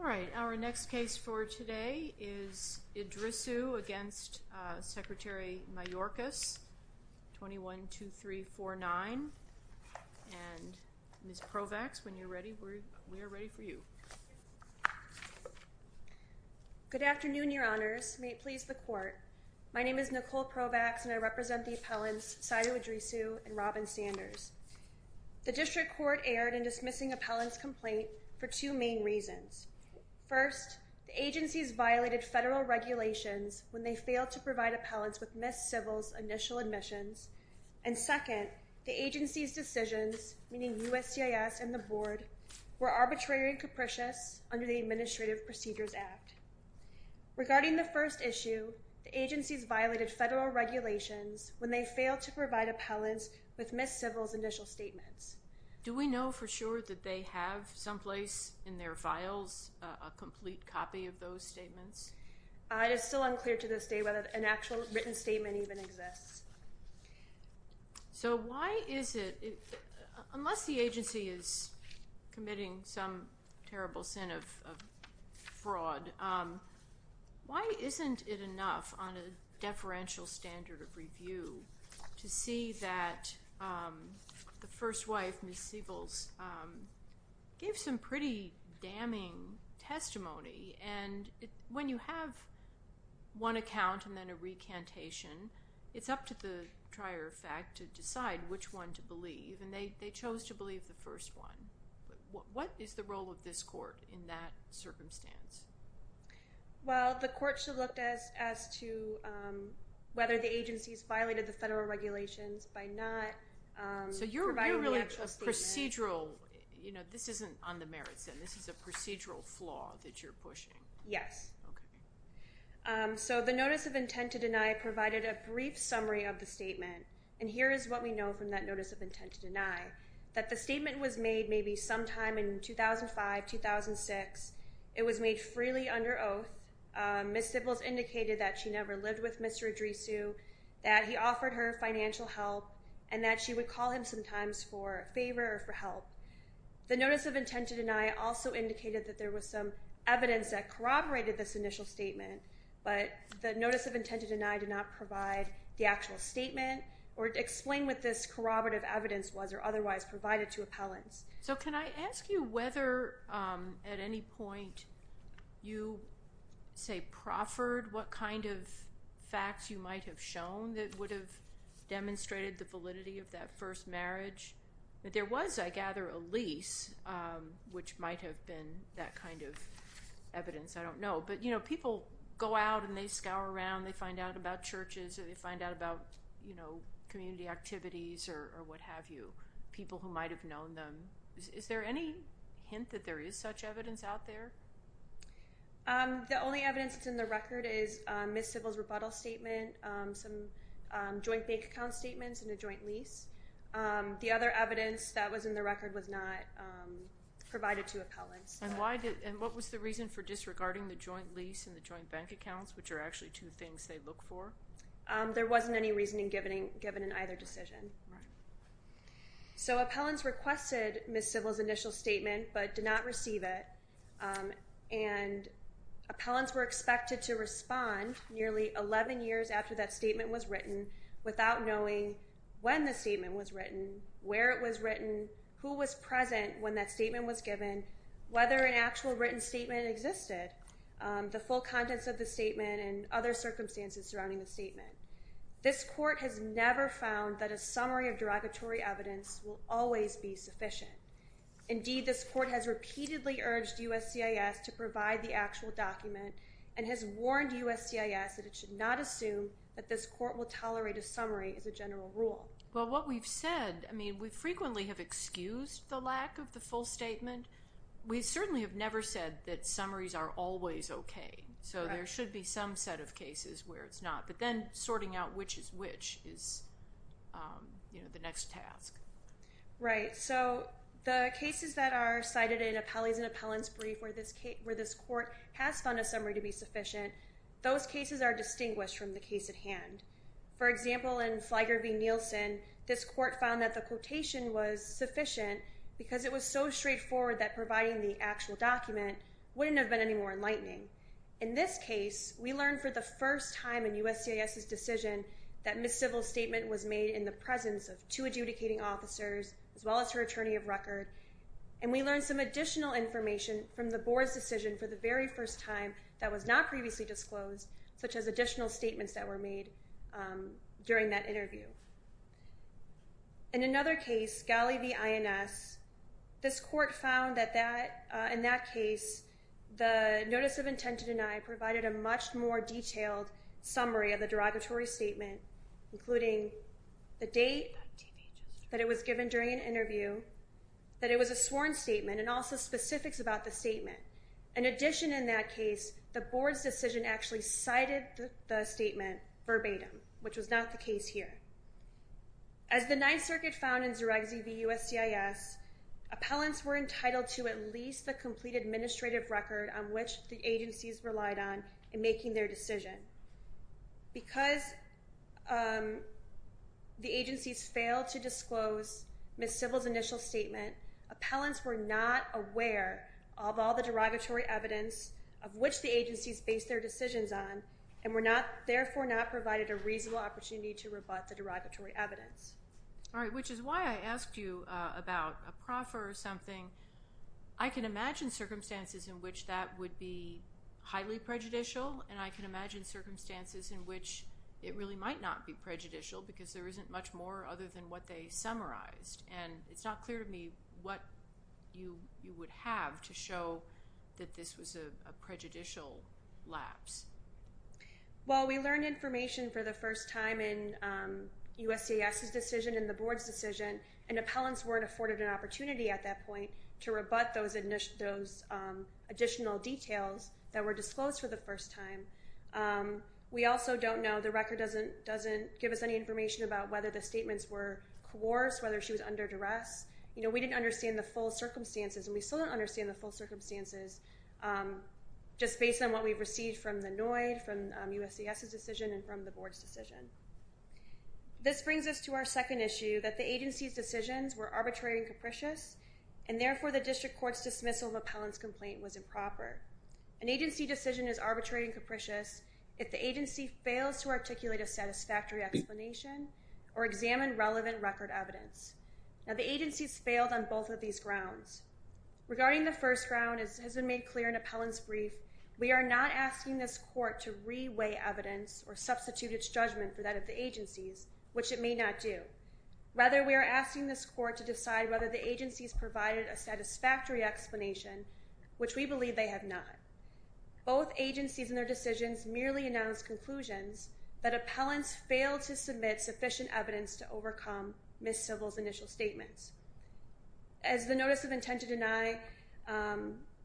All right, our next case for today is Idrissu against Secretary Mayorkas, 21-2349, and Ms. Provax, when you're ready, we're ready for you. Good afternoon, Your Honors. May it please the Court. My name is Nicole Provax, and I represent the appellants Seidu Idrissu and Robin Sanders. The District Court erred in dismissing appellants' complaint for two main reasons. First, the agencies violated federal regulations when they failed to provide appellants with Ms. Sybil's initial admissions. And second, the agencies' decisions, meaning USCIS and the Board, were arbitrary and capricious under the Administrative Procedures Act. Regarding the first issue, the agencies violated federal regulations when they failed to provide appellants with Ms. Sybil's initial statements. Do we know for sure that they have someplace in their files a complete copy of those statements? It is still unclear to this day whether an actual written statement even exists. So why is it, unless the agency is committing some terrible sin of fraud, why isn't it enough on a deferential standard of review to see that the first wife, Ms. Sybil, gave some pretty damning testimony? And when you have one account and then a recantation, it's up to the trier of fact to decide which one to believe. And they chose to believe the first one. What is the role of this Court in that circumstance? Well, the Court should look as to whether the agencies violated the federal regulations by not providing the actual statement. This isn't on the merits, then? This is a procedural flaw that you're pushing? Yes. Okay. So the Notice of Intent to Deny provided a brief summary of the statement. And here is what we know from that Notice of Intent to Deny. That the statement was made maybe sometime in 2005, 2006. It was made freely under oath. Ms. Sybil's indicated that she never lived with Mr. Idrisu, that he offered her financial help, and that she would call him sometimes for a favor or for help. The Notice of Intent to Deny also indicated that there was some evidence that corroborated this initial statement. But the Notice of Intent to Deny did not provide the actual statement or explain what this corroborative evidence was or otherwise provided to appellants. So can I ask you whether at any point you say proffered what kind of facts you might have shown that would have demonstrated the validity of that first marriage? But there was, I gather, a lease, which might have been that kind of evidence. I don't know. But, you know, people go out and they scour around. They find out about churches or they find out about, you know, community activities or what have you. People who might have known them. Is there any hint that there is such evidence out there? The only evidence that's in the record is Ms. Sybil's rebuttal statement, some joint bank account statements, and a joint lease. The other evidence that was in the record was not provided to appellants. And what was the reason for disregarding the joint lease and the joint bank accounts, which are actually two things they look for? There wasn't any reasoning given in either decision. So appellants requested Ms. Sybil's initial statement but did not receive it. And appellants were expected to respond nearly 11 years after that statement was written without knowing when the statement was written, where it was written, who was present when that statement was given, whether an actual written statement existed, the full contents of the statement, and other circumstances surrounding the statement. This court has never found that a summary of derogatory evidence will always be sufficient. Indeed, this court has repeatedly urged USCIS to provide the actual document and has warned USCIS that it should not assume that this court will tolerate a summary as a general rule. Well, what we've said, I mean, we frequently have excused the lack of the full statement. We certainly have never said that summaries are always okay. So there should be some set of cases where it's not. But then sorting out which is which is the next task. Right. So the cases that are cited in appellees and appellants brief where this court has found a summary to be sufficient, those cases are distinguished from the case at hand. For example, in Flieger v. Nielsen, this court found that the quotation was sufficient because it was so straightforward that providing the actual document wouldn't have been any more enlightening. In this case, we learned for the first time in USCIS's decision that Ms. Civil's statement was made in the presence of two adjudicating officers as well as her attorney of record. And we learned some additional information from the board's decision for the very first time that was not previously disclosed, such as additional statements that were made during that interview. In another case, Galley v. INS, this court found that in that case, the notice of intent to deny provided a much more detailed summary of the derogatory statement, including the date that it was given during an interview, that it was a sworn statement, and also specifics about the statement. In addition, in that case, the board's decision actually cited the statement verbatim, which was not the case here. As the Ninth Circuit found in Zeregzi v. USCIS, appellants were entitled to at least the complete administrative record on which the agencies relied on in making their decision. Because the agencies failed to disclose Ms. Civil's initial statement, appellants were not aware of all the derogatory evidence of which the agencies based their decisions on and were therefore not provided a reasonable opportunity to rebut the derogatory evidence. All right, which is why I asked you about a proffer or something. I can imagine circumstances in which that would be highly prejudicial, and I can imagine circumstances in which it really might not be prejudicial because there isn't much more other than what they summarized. And it's not clear to me what you would have to show that this was a prejudicial lapse. Well, we learned information for the first time in USCIS's decision and the board's decision, and appellants weren't afforded an opportunity at that point to rebut those additional details that were disclosed for the first time. We also don't know, the record doesn't give us any information about whether the statements were coerced, whether she was under duress. You know, we didn't understand the full circumstances, and we still don't understand the full circumstances just based on what we've received from the NOID, from USCIS's decision, and from the board's decision. This brings us to our second issue, that the agency's decisions were arbitrary and capricious, and therefore the district court's dismissal of appellant's complaint was improper. An agency decision is arbitrary and capricious if the agency fails to articulate a satisfactory explanation or examine relevant record evidence. Now, the agencies failed on both of these grounds. Regarding the first ground, as has been made clear in appellant's brief, we are not asking this court to re-weigh evidence or substitute its judgment for that of the agencies, which it may not do. Rather, we are asking this court to decide whether the agencies provided a satisfactory explanation, which we believe they have not. Both agencies in their decisions merely announced conclusions that appellants failed to submit sufficient evidence to overcome Ms. Sybil's initial statements. As the notice of intent to deny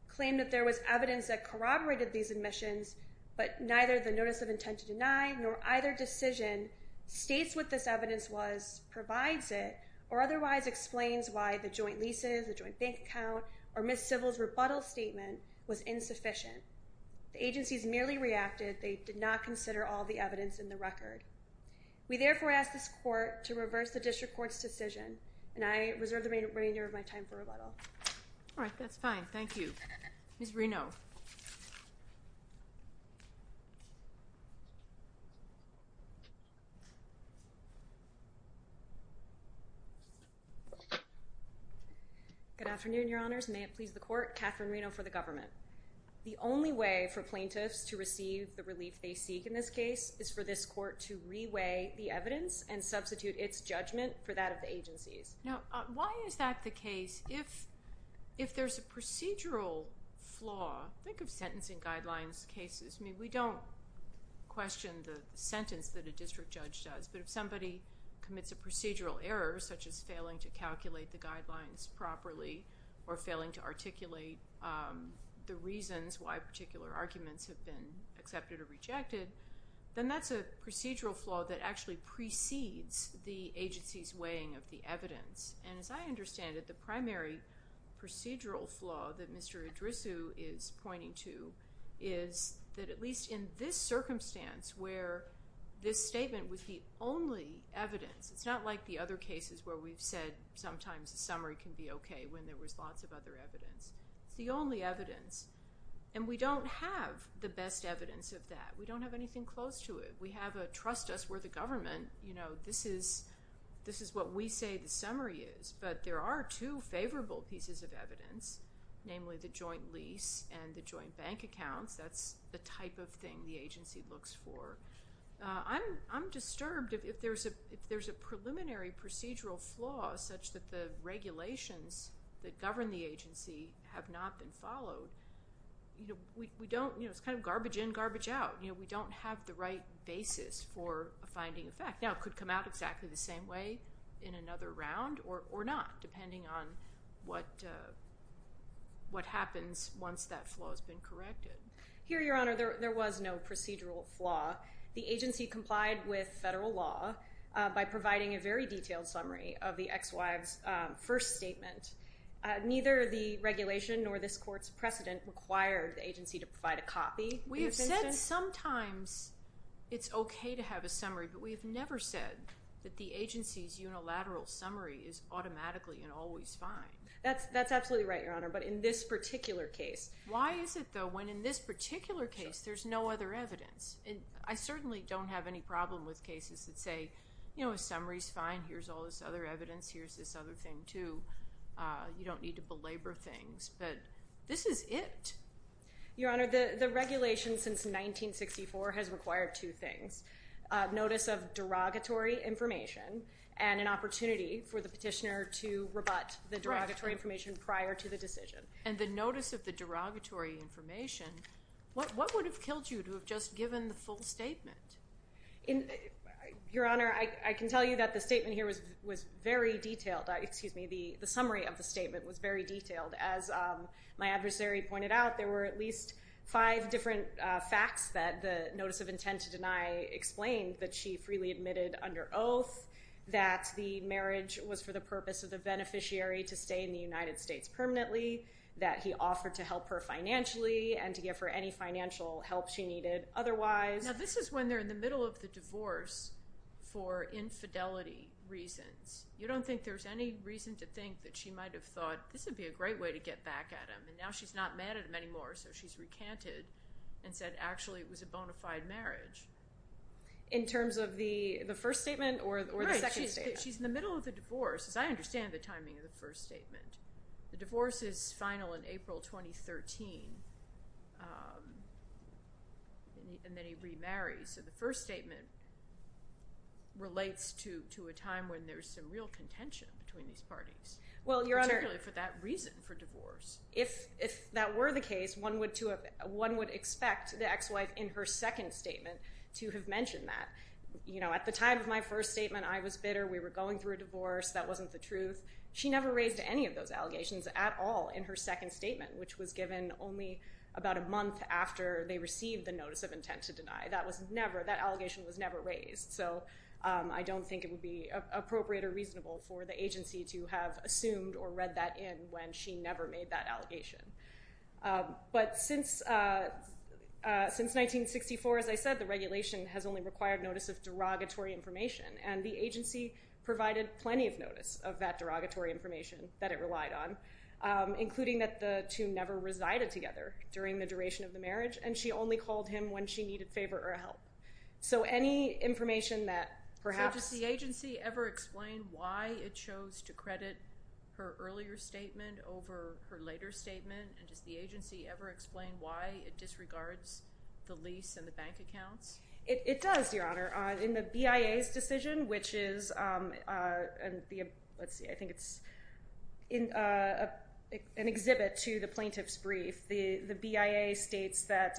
claimed that there was evidence that corroborated these admissions, but neither the notice of intent to deny nor either decision states what this evidence was, provides it, or otherwise explains why the joint leases, the joint bank account, or Ms. Sybil's rebuttal statement was insufficient. The agencies merely reacted they did not consider all the evidence in the record. We therefore ask this court to reverse the district court's decision, and I reserve the remainder of my time for rebuttal. All right. That's fine. Thank you. Ms. Reno. Good afternoon, Your Honors. May it please the court. Catherine Reno for the government. The only way for plaintiffs to receive the relief they seek in this case is for this court to re-weigh the evidence and substitute its judgment for that of the agencies. Now, why is that the case? Think of sentencing guidelines cases. I mean, we don't question the sentence that a district judge does, but if somebody commits a procedural error, such as failing to calculate the guidelines properly or failing to articulate the reasons why particular arguments have been accepted or rejected, then that's a procedural flaw that actually precedes the agency's weighing of the evidence. And as I understand it, the primary procedural flaw that Mr. Idrisu is pointing to is that at least in this circumstance where this statement was the only evidence, it's not like the other cases where we've said sometimes a summary can be okay when there was lots of other evidence. It's the only evidence, and we don't have the best evidence of that. We don't have anything close to it. We have a trust us, we're the government. This is what we say the summary is, but there are two favorable pieces of evidence, namely the joint lease and the joint bank accounts. That's the type of thing the agency looks for. I'm disturbed if there's a preliminary procedural flaw such that the regulations that govern the agency have not been followed. It's kind of garbage in, garbage out. We don't have the right basis for finding a fact. Now, it could come out exactly the same way in another round or not, depending on what happens once that flaw has been corrected. Here, Your Honor, there was no procedural flaw. The agency complied with federal law by providing a very detailed summary of the ex-wife's first statement. Neither the regulation nor this court's precedent required the agency to provide a copy. We have said sometimes it's okay to have a summary, but we have never said that the agency's unilateral summary is automatically and always fine. That's absolutely right, Your Honor, but in this particular case. Why is it, though, when in this particular case there's no other evidence? I certainly don't have any problem with cases that say, you know, a summary's fine, here's all this other evidence, here's this other thing, too. You don't need to belabor things, but this is it. Your Honor, the regulation since 1964 has required two things, notice of derogatory information and an opportunity for the petitioner to rebut the derogatory information prior to the decision. And the notice of the derogatory information, what would have killed you to have just given the full statement? Your Honor, I can tell you that the statement here was very detailed. Excuse me, the summary of the statement was very detailed. As my adversary pointed out, there were at least five different facts that the notice of intent to deny explained, that she freely admitted under oath, that the marriage was for the purpose of the beneficiary to stay in the United States permanently, that he offered to help her financially and to give her any financial help she needed otherwise. Now, this is when they're in the middle of the divorce for infidelity reasons. You don't think there's any reason to think that she might have thought this would be a great way to get back at him, and now she's not mad at him anymore, so she's recanted and said, actually, it was a bona fide marriage. In terms of the first statement or the second statement? Right, she's in the middle of the divorce, as I understand the timing of the first statement. The divorce is final in April 2013, and then he remarries. So the first statement relates to a time when there's some real contention between these parties, particularly for that reason for divorce. If that were the case, one would expect the ex-wife in her second statement to have mentioned that. At the time of my first statement, I was bitter, we were going through a divorce, that wasn't the truth. She never raised any of those allegations at all in her second statement, which was given only about a month after they received the notice of intent to deny. That was never, that allegation was never raised. So I don't think it would be appropriate or reasonable for the agency to have assumed or read that in when she never made that allegation. But since 1964, as I said, the regulation has only required notice of derogatory information, and the agency provided plenty of notice of that derogatory information that it relied on, including that the two never resided together during the duration of the marriage, and she only called him when she needed favor or help. So any information that perhaps... So does the agency ever explain why it chose to credit her earlier statement over her later statement? And does the agency ever explain why it disregards the lease and the bank accounts? It does, Your Honor. In the BIA's decision, which is, let's see, I think it's an exhibit to the plaintiff's brief, the BIA states that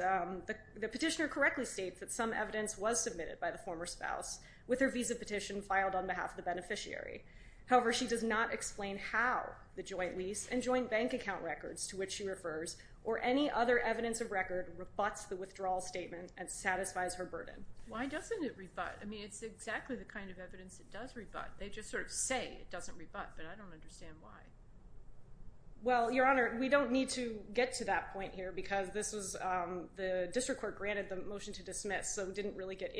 the petitioner correctly states that some evidence was submitted by the former spouse with her visa petition filed on behalf of the beneficiary. However, she does not explain how the joint lease and joint bank account records to which she refers or any other evidence of record rebuts the withdrawal statement and satisfies her burden. Why doesn't it rebut? I mean, it's exactly the kind of evidence that does rebut. They just sort of say it doesn't rebut, but I don't understand why. Well, Your Honor, we don't need to get to that point here, because the district court granted the motion to dismiss, so it didn't really get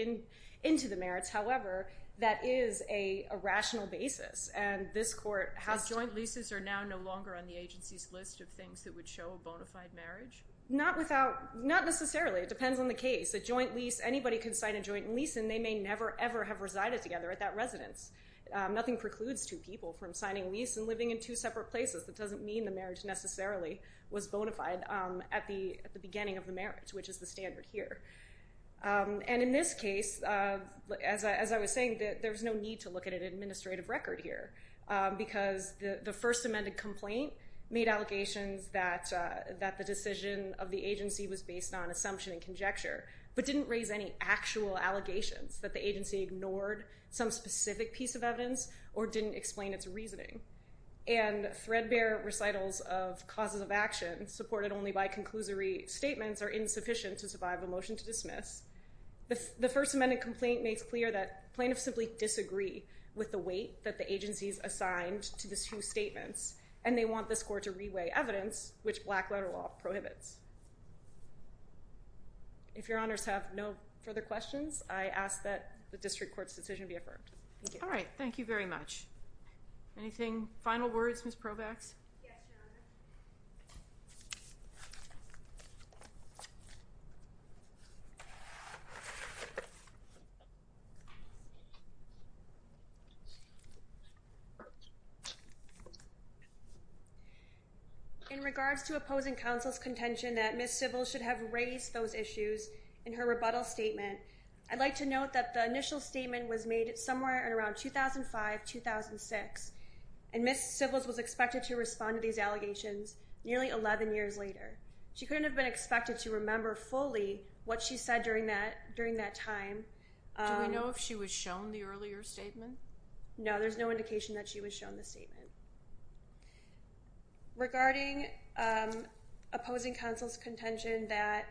into the merits. However, that is a rational basis, and this court has to... But joint leases are now no longer on the agency's list of things that would show a bona fide marriage? Not necessarily. It depends on the case. A joint lease, anybody can sign a joint lease, and they may never, ever have resided together at that residence. Nothing precludes two people from signing a lease and living in two separate places. That doesn't mean the marriage necessarily was bona fide at the beginning of the marriage, which is the standard here. And in this case, as I was saying, there's no need to look at an administrative record here, because the first amended complaint made allegations that the decision of the agency was based on assumption and conjecture, but didn't raise any actual allegations that the agency ignored some specific piece of evidence or didn't explain its reasoning. And threadbare recitals of causes of action, supported only by conclusory statements, are insufficient to survive a motion to dismiss. The first amended complaint makes clear that plaintiffs simply disagree with the weight that the agency's assigned to the two statements, and they want this court to reweigh evidence, which black letter law prohibits. If Your Honors have no further questions, I ask that the district court's decision be affirmed. Thank you. All right. Thank you very much. Anything? Final words, Ms. Provax? Yes, Your Honor. Thank you. In regards to opposing counsel's contention that Ms. Sybils should have raised those issues in her rebuttal statement, I'd like to note that the initial statement was made somewhere around 2005-2006, and Ms. Sybils was expected to respond to these allegations nearly 11 years later. She couldn't have been expected to remember fully what she said during that time. Do we know if she was shown the earlier statement? No, there's no indication that she was shown the statement. Regarding opposing counsel's contention that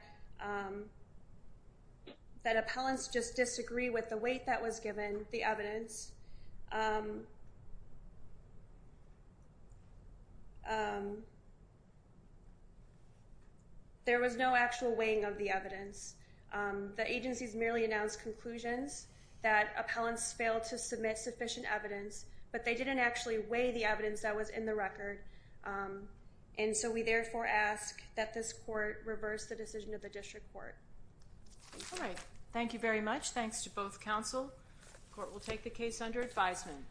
appellants just disagree with the weight that was given, the evidence, there was no actual weighing of the evidence. The agencies merely announced conclusions that appellants failed to submit sufficient evidence, but they didn't actually weigh the evidence that was in the record, and so we therefore ask that this court reverse the decision of the district court. All right. Thank you very much. Thanks to both counsel. Court will take the case under advisement.